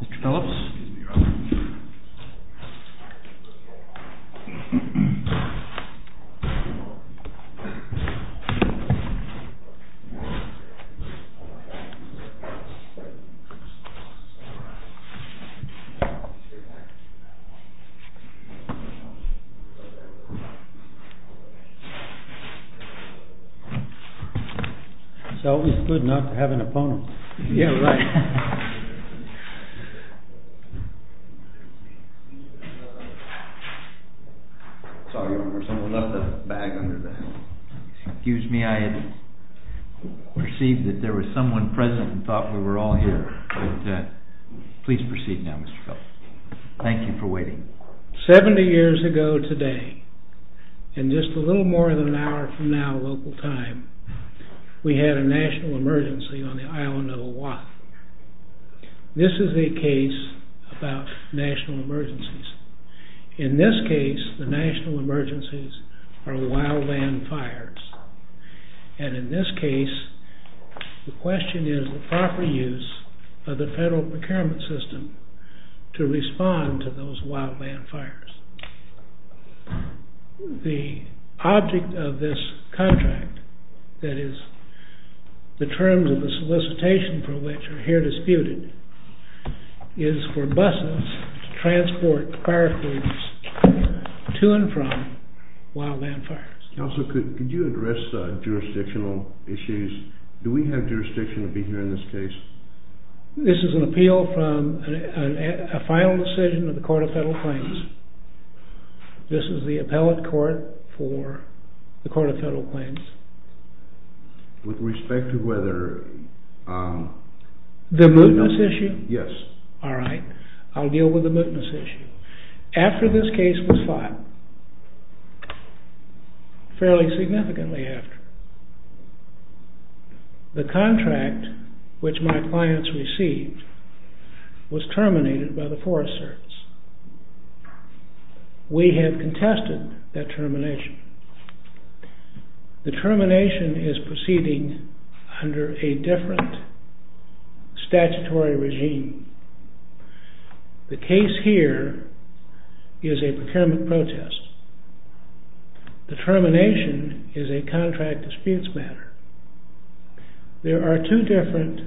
Mr. Phillips? It's always good not to have an opponent. Yeah, right. Seventy years ago today, and just a little more than an hour from now, local time, we had a national emergency on the island of Oahu. This is a case about national emergencies. In this case, the national emergencies are wildland fires. And in this case, the question is the proper use of the federal procurement system to respond to those wildland fires. The object of this contract, that is, the terms of the solicitation for which are here disputed, is for buses to transport fire crews to and from wildland fires. Counselor, could you address jurisdictional issues? Do we have jurisdiction to be here in this case? This is an appeal from a final decision of the Court of Federal Claims. This is the appellate court for the Court of Federal Claims. With respect to whether... The mootness issue? Yes. All right. I'll deal with the mootness issue. After this case was filed, fairly significantly after, the contract which my clients received was terminated by the Forest Service. We have contested that termination. The termination is proceeding under a different statutory regime. The case here is a procurement protest. The termination is a contract dispute matter. There are two different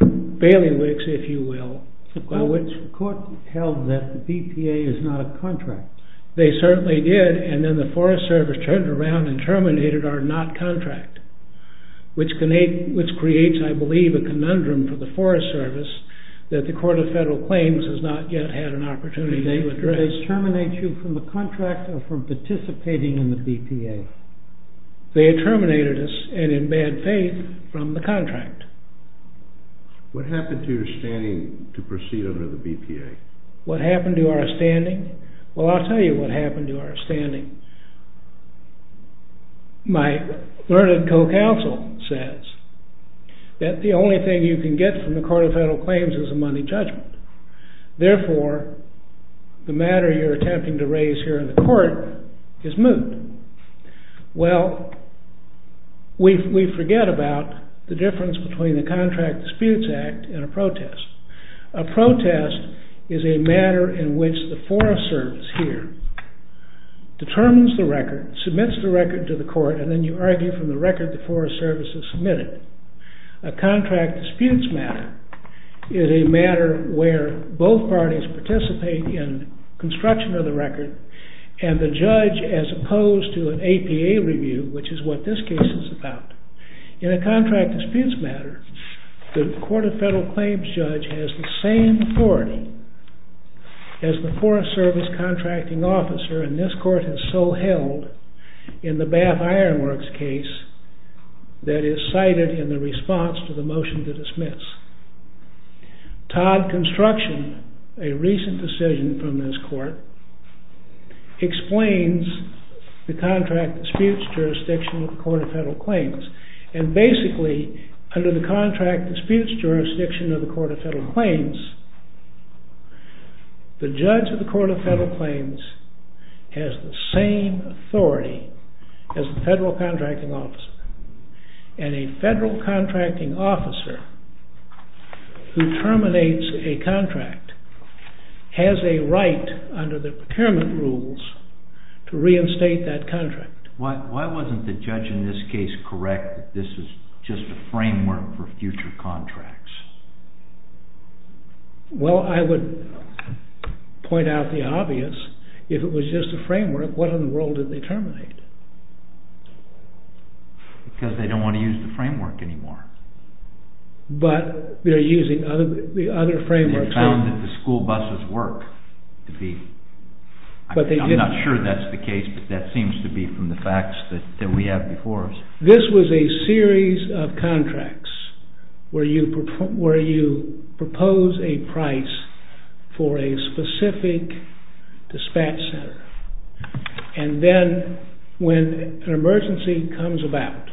bailiwicks, if you will, by which the Court held that the BPA is not a contract. They certainly did, and then the Forest Service turned around and terminated our not-contract, which creates, I believe, a conundrum for the Forest Service that the Court of Federal Claims has not yet had an opportunity to address. Did they terminate you from the contract or from participating in the BPA? They terminated us, and in bad faith, from the contract. What happened to your standing to proceed under the BPA? What happened to our standing? Well, I'll tell you what happened to our standing. My learned co-counsel says that the only thing you can get from the Court of Federal Claims is a money judgment. Therefore, the matter you're attempting to raise here in the Court is moved. Well, we forget about the difference between a contract disputes act and a protest. A protest is a matter in which the Forest Service here determines the record, submits the record to the Court, and then you argue from the record the Forest Service has submitted. A contract disputes matter is a matter where both parties participate in construction of the record and the judge as opposed to an APA review, which is what this case is about. In a contract disputes matter, the Court of Federal Claims judge has the same authority as the Forest Service contracting officer, and this Court has so held in the Bath Iron Works case that is cited in the response to the motion to dismiss. Todd Construction, a recent decision from this Court, explains the contract disputes jurisdiction of the Court of Federal Claims. And basically, under the contract disputes jurisdiction of the Court of Federal Claims, the judge of the Court of Federal Claims has the same authority as the federal contracting officer, and a federal contracting officer who terminates a contract has a right under the procurement rules to reinstate that contract. Why wasn't the judge in this case correct that this is just a framework for future contracts? Well, I would point out the obvious. If it was just a framework, what in the world did they terminate? Because they don't want to use the framework anymore. But they're using the other frameworks. They found that the school buses work. I'm not sure that's the case, but that seems to be from the facts that we have before us. This was a series of contracts where you propose a price for a specific dispatch center. And then when an emergency comes about,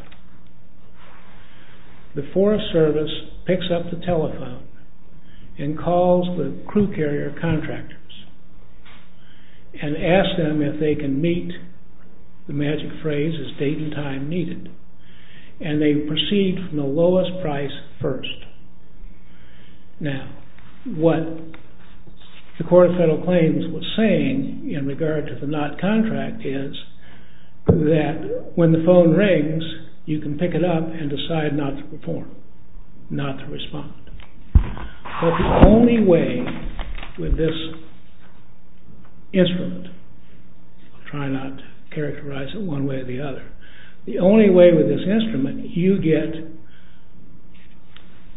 the Forest Service picks up the telephone and calls the crew carrier contractors and asks them if they can meet the magic phrase, is date and time needed? And they proceed from the lowest price first. Now, what the Court of Federal Claims was saying in regard to the not contract is that when the phone rings, you can pick it up and decide not to perform, not to respond. But the only way with this instrument, I'll try not to characterize it one way or the other, the only way with this instrument you get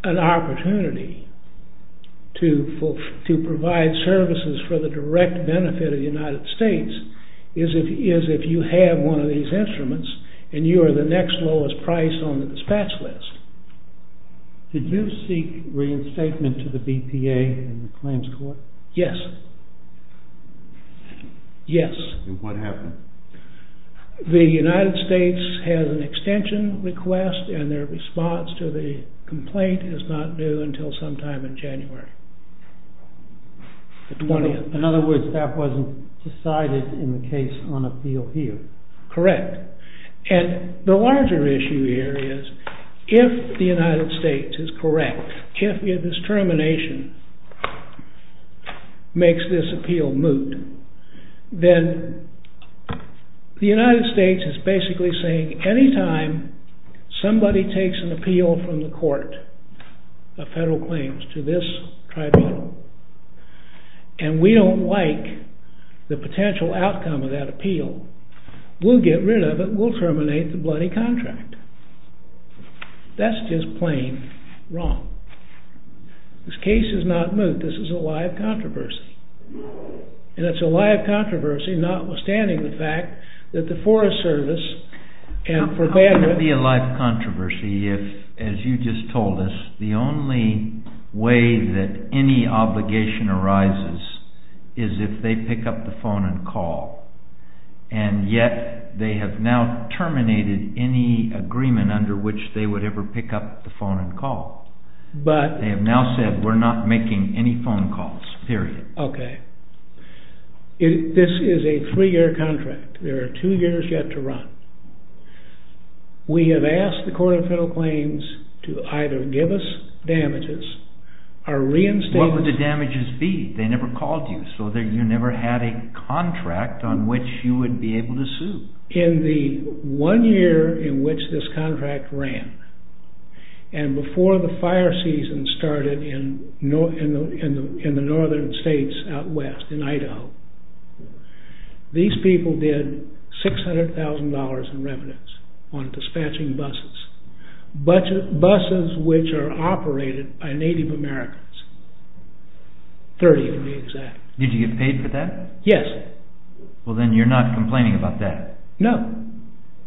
an opportunity to provide services for the direct benefit of the United States is if you have one of these instruments and you are the next lowest price on the dispatch list. Did you seek reinstatement to the BPA in the Claims Court? Yes. Yes. And what happened? The United States has an extension request and their response to the complaint is not due until sometime in January. In other words, that wasn't decided in the case on appeal here. Correct. And the larger issue here is if the United States is correct, if its termination makes this appeal moot, then the United States is basically saying anytime somebody takes an appeal from the Court of Federal Claims to this tribunal and we don't like the potential outcome of that appeal, we'll get rid of it, we'll terminate the bloody contract. That's just plain wrong. This case is not moot, this is a live controversy. And it's a live controversy notwithstanding the fact that the Forest Service and for Bandit... How can it be a live controversy if, as you just told us, the only way that any obligation arises is if they pick up the phone and call and yet they have now terminated any agreement under which they would ever pick up the phone and call. They have now said, we're not making any phone calls, period. Okay. This is a three-year contract. There are two years yet to run. We have asked the Court of Federal Claims to either give us damages, or reinstate... What would the damages be? They never called you, so you never had a contract on which you would be able to sue. In the one year in which this contract ran, and before the fire season started in the northern states out west, in Idaho, these people did $600,000 in revenues on dispatching buses. Buses which are operated by Native Americans. Thirty, to be exact. Did you get paid for that? Yes. Well then, you're not complaining about that? No.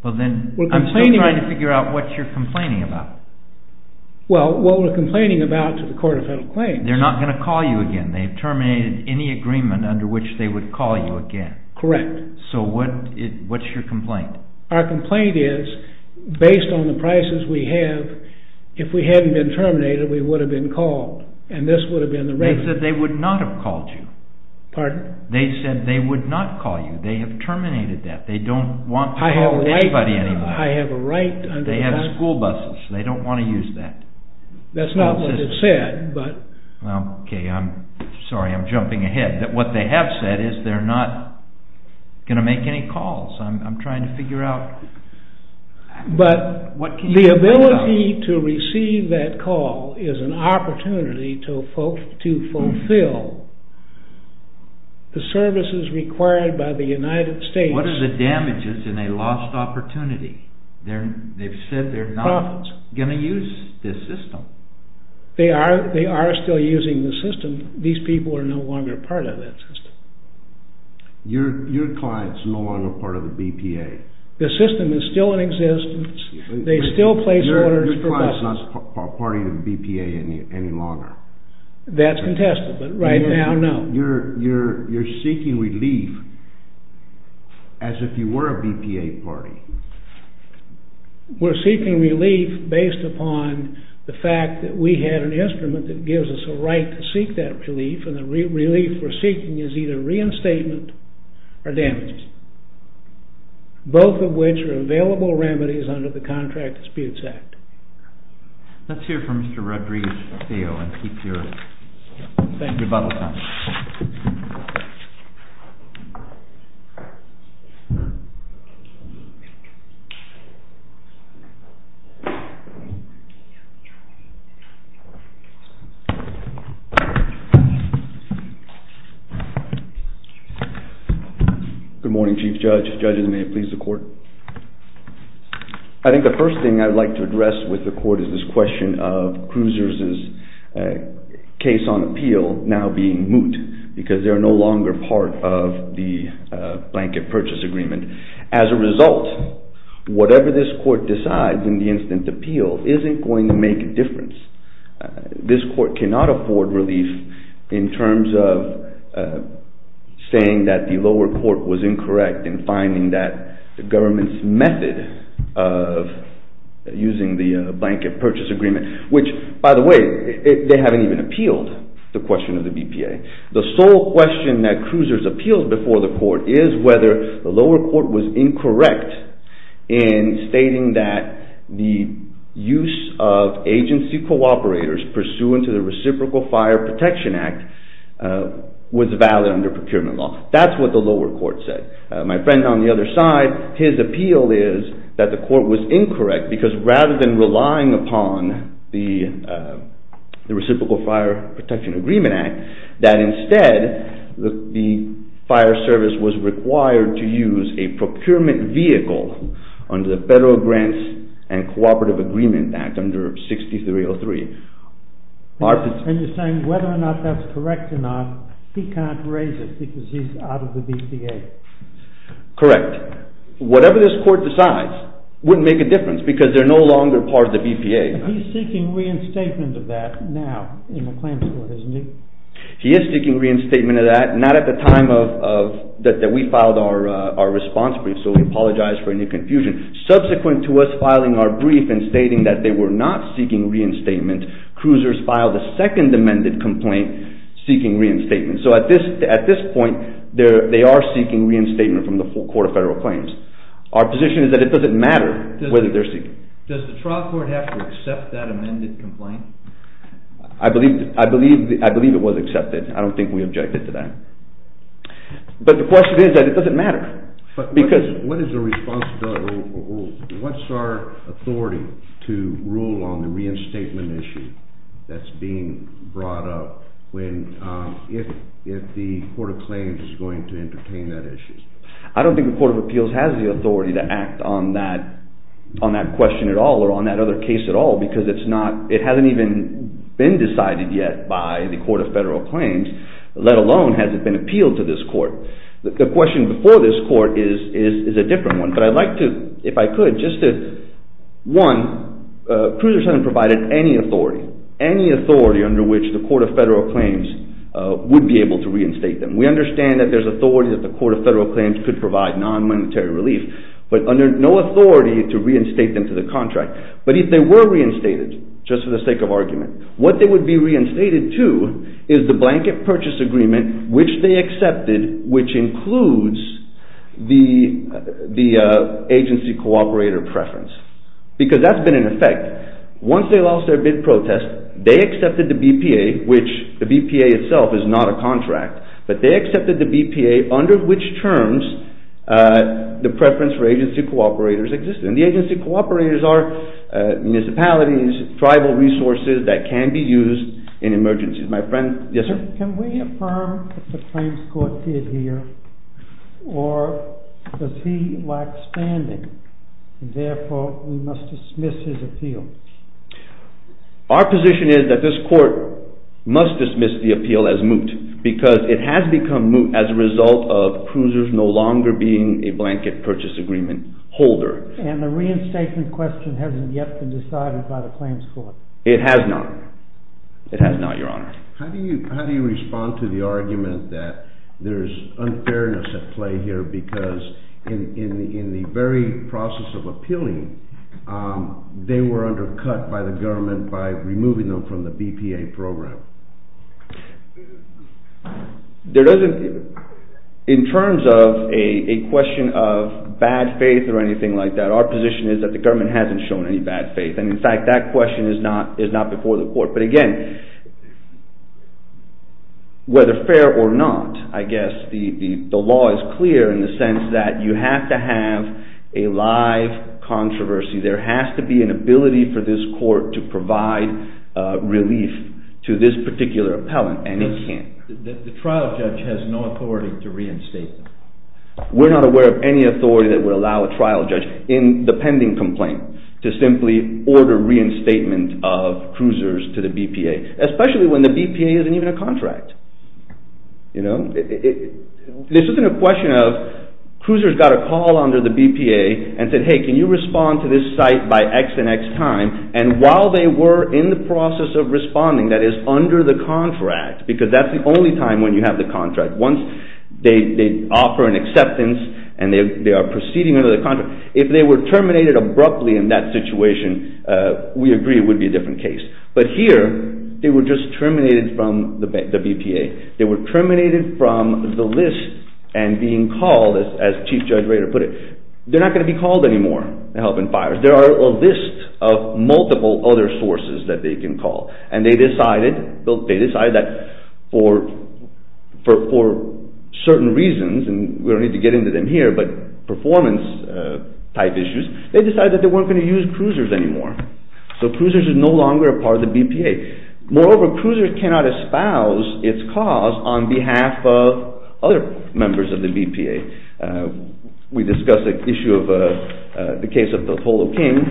Well then, I'm still trying to figure out what you're complaining about. Well, what we're complaining about to the Court of Federal Claims... They're not going to call you again. They've terminated any agreement under which they would call you again. Correct. So what's your complaint? Our complaint is, based on the prices we have, if we hadn't been terminated, we would have been called. And this would have been the regular... They said they would not have called you. Pardon? They said they would not call you. They have terminated that. They don't want to call anybody anymore. I have a right... They have school buses. They don't want to use that. That's not what it said, but... Okay, I'm sorry. I'm jumping ahead. What they have said is they're not going to make any calls. I'm trying to figure out... The ability to receive that call is an opportunity to fulfill the services required by the United States. What are the damages in a lost opportunity? They've said they're not going to use this system. They are still using the system. These people are no longer part of that system. Your client's no longer part of the BPA. The system is still in existence. They still place orders for buses. Your client's not part of the BPA any longer. That's contested, but right now, no. You're seeking relief as if you were a BPA party. We're seeking relief based upon the fact that we have an instrument that gives us a right to seek that relief, and the relief we're seeking is either reinstatement or damages, both of which are available remedies under the Contract Disputes Act. Let's hear from Mr. Rodriguez-Feo and keep your bubble up. Good morning, Chief Judge. Judges, may it please the Court. I think the first thing I'd like to address with the Court is this question of Cruiser's case on appeal now being moot because they're no longer part of the Blanket Purchase Agreement. As a result, whatever this Court decides in the instant appeal isn't going to make a difference. This Court cannot afford relief in terms of saying that the lower court was incorrect in finding that the government's method of using the Blanket Purchase Agreement, which, by the way, they haven't even appealed the question of the BPA. The sole question that Cruiser's appealed before the Court is whether the lower court was incorrect in stating that the use of agency cooperators pursuant to the Reciprocal Fire Protection Act was valid under procurement law. That's what the lower court said. My friend on the other side, his appeal is that the Court was incorrect because rather than relying upon the Reciprocal Fire Protection Agreement Act, that instead the fire service was required to use a procurement vehicle under the Federal Grants and Cooperative Agreement Act under 6303. And you're saying whether or not that's correct or not, he can't raise it because he's out of the BPA. Correct. Whatever this Court decides wouldn't make a difference because they're no longer part of the BPA. He's seeking reinstatement of that now in the claims court, isn't he? He is seeking reinstatement of that, not at the time that we filed our response brief, so we apologize for any confusion. Subsequent to us filing our brief and stating that they were not seeking reinstatement, cruisers filed a second amended complaint seeking reinstatement. So at this point they are seeking reinstatement from the Court of Federal Claims. Our position is that it doesn't matter whether they're seeking. Does the trial court have to accept that amended complaint? I believe it was accepted. I don't think we objected to that. But the question is that it doesn't matter. What is our authority to rule on the reinstatement issue that's being brought up if the Court of Claims is going to entertain that issue? I don't think the Court of Appeals has the authority to act on that question at all or on that other case at all because it hasn't even been decided yet by the Court of Federal Claims, let alone has it been appealed to this Court. The question before this Court is a different one. But I'd like to, if I could, just to, one, cruisers haven't provided any authority, any authority under which the Court of Federal Claims would be able to reinstate them. We understand that there's authority that the Court of Federal Claims could provide non-monetary relief, but under no authority to reinstate them to the contract. But if they were reinstated, just for the sake of argument, what they would be reinstated to is the blanket purchase agreement which they accepted which includes the agency cooperator preference because that's been in effect. Once they lost their bid protest, they accepted the BPA, which the BPA itself is not a contract, but they accepted the BPA under which terms the preference for agency cooperators existed. And the agency cooperators are municipalities, tribal resources that can be used in emergencies. Can we affirm what the claims court did here or does he lack standing and therefore we must dismiss his appeal? Our position is that this court must dismiss the appeal as moot because it has become moot as a result of cruisers no longer being a blanket purchase agreement holder. And the reinstatement question hasn't yet been decided by the claims court. It has not. It has not, Your Honor. How do you respond to the argument that there's unfairness at play here because in the very process of appealing, they were undercut by the government by removing them from the BPA program? In terms of a question of bad faith or anything like that, our position is that the government hasn't shown any bad faith. And in fact, that question is not before the court. But again, whether fair or not, I guess the law is clear in the sense that you have to have a live controversy. There has to be an ability for this court to provide relief to this particular appellant and it can't. The trial judge has no authority to reinstate them. We're not aware of any authority that would allow a trial judge in the pending complaint to simply order reinstatement of cruisers to the BPA, especially when the BPA isn't even a contract. This isn't a question of cruisers got a call under the BPA and said, hey, can you respond to this site by X and X time? And while they were in the process of responding, that is under the contract, because that's the only time when you have the contract. Once they offer an acceptance and they are proceeding under the contract, if they were terminated abruptly in that situation, we agree it would be a different case. But here, they were just terminated from the BPA. They were terminated from the list and being called, as Chief Judge Rader put it. They're not going to be called anymore, the help and fires. There are a list of multiple other sources that they can call. And they decided that for certain reasons, and we don't need to get into them here, but performance type issues, they decided that they weren't going to use cruisers anymore. So cruisers are no longer a part of the BPA. Moreover, cruisers cannot espouse its cause on behalf of other members of the BPA. We discussed the issue of the case of the Tolo King,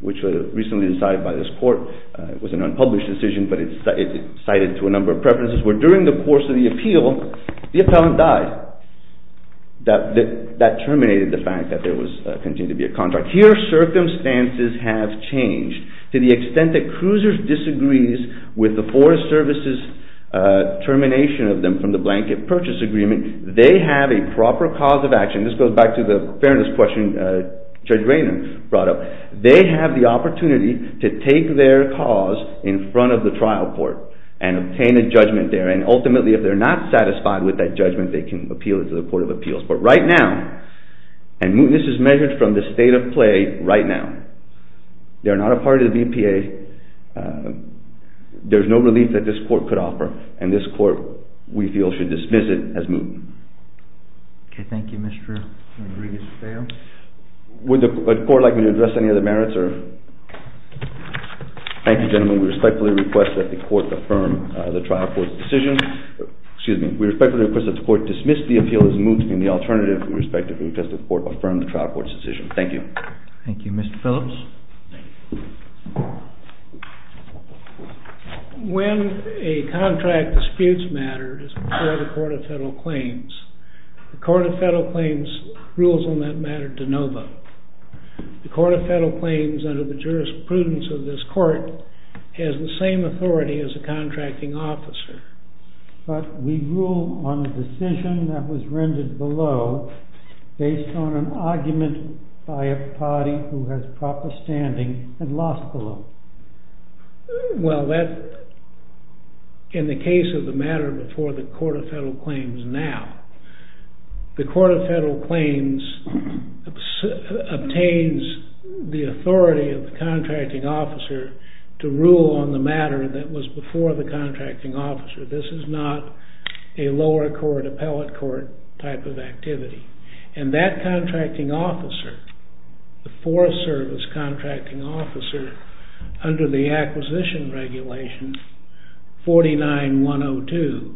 which was recently decided by this court. It was an unpublished decision, but it's cited to a number of preferences, where during the course of the appeal, the appellant died. That terminated the fact that there continued to be a contract. Here, circumstances have changed to the extent that cruisers disagree with the Forest Service's termination of them from the Blanket Purchase Agreement. They have a proper cause of action. This goes back to the fairness question Judge Rader brought up. They have the opportunity to take their cause in front of the trial court and obtain a judgment there. Ultimately, if they're not satisfied with that judgment, they can appeal it to the Court of Appeals. But right now, and this is measured from the state of play right now, they're not a part of the BPA, there's no relief that this court could offer, and this court, we feel, should dismiss it as moot. Thank you, Mr. Rodriguez-Fayo. Would the court like me to address any other merits? Thank you, gentlemen. We respectfully request that the Court dismiss the appeal as moot in the alternative. We respectfully request that the Court affirm the trial court's decision. Thank you. Thank you, Mr. Phillips. When a contract disputes matters before the Court of Federal Claims, the Court of Federal Claims rules on that matter de novo. The Court of Federal Claims, under the jurisprudence of this court, has the same authority as a contracting officer. But we rule on a decision that was rendered below based on an argument by a party who has proper standing and lost below. Well, that, in the case of the matter before the Court of Federal Claims now, the Court of Federal Claims obtains the authority of the contracting officer to rule on the matter that was before the contracting officer. This is not a lower court, appellate court type of activity. And that contracting officer, the Forest Service contracting officer, under the acquisition regulation 49-102,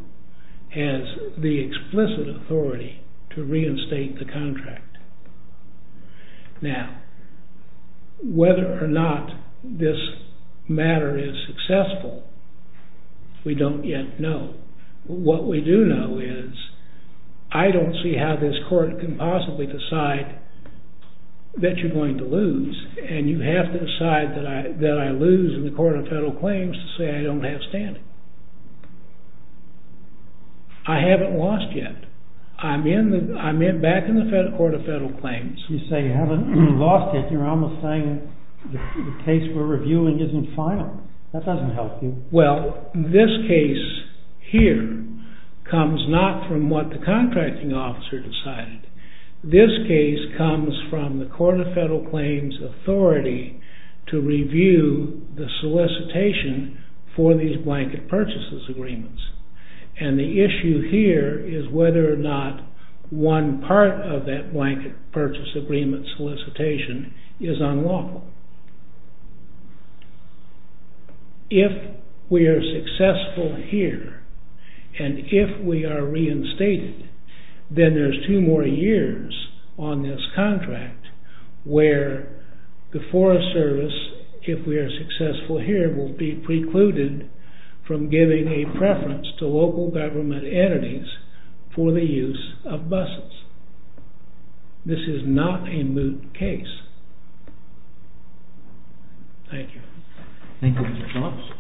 has the explicit authority to reinstate the contract. Now, whether or not this matter is successful, we don't yet know. What we do know is I don't see how this court can possibly decide that you're going to lose. And you have to decide that I lose in the Court of Federal Claims to say I don't have standing. I haven't lost yet. I'm back in the Court of Federal Claims. You say you haven't lost yet. You're almost saying the case we're reviewing isn't final. That doesn't help you. Well, this case here comes not from what the contracting officer decided. This case comes from the Court of Federal Claims' authority to review the solicitation for these blanket purchases agreements. And the issue here is whether or not one part of that blanket purchase agreement solicitation is unlawful. If we are successful here, and if we are reinstated, then there's two more years on this contract where the Forest Service, if we are successful here, will be precluded from giving a preference to local government entities for the use of buses. This is not a moot case. Thank you.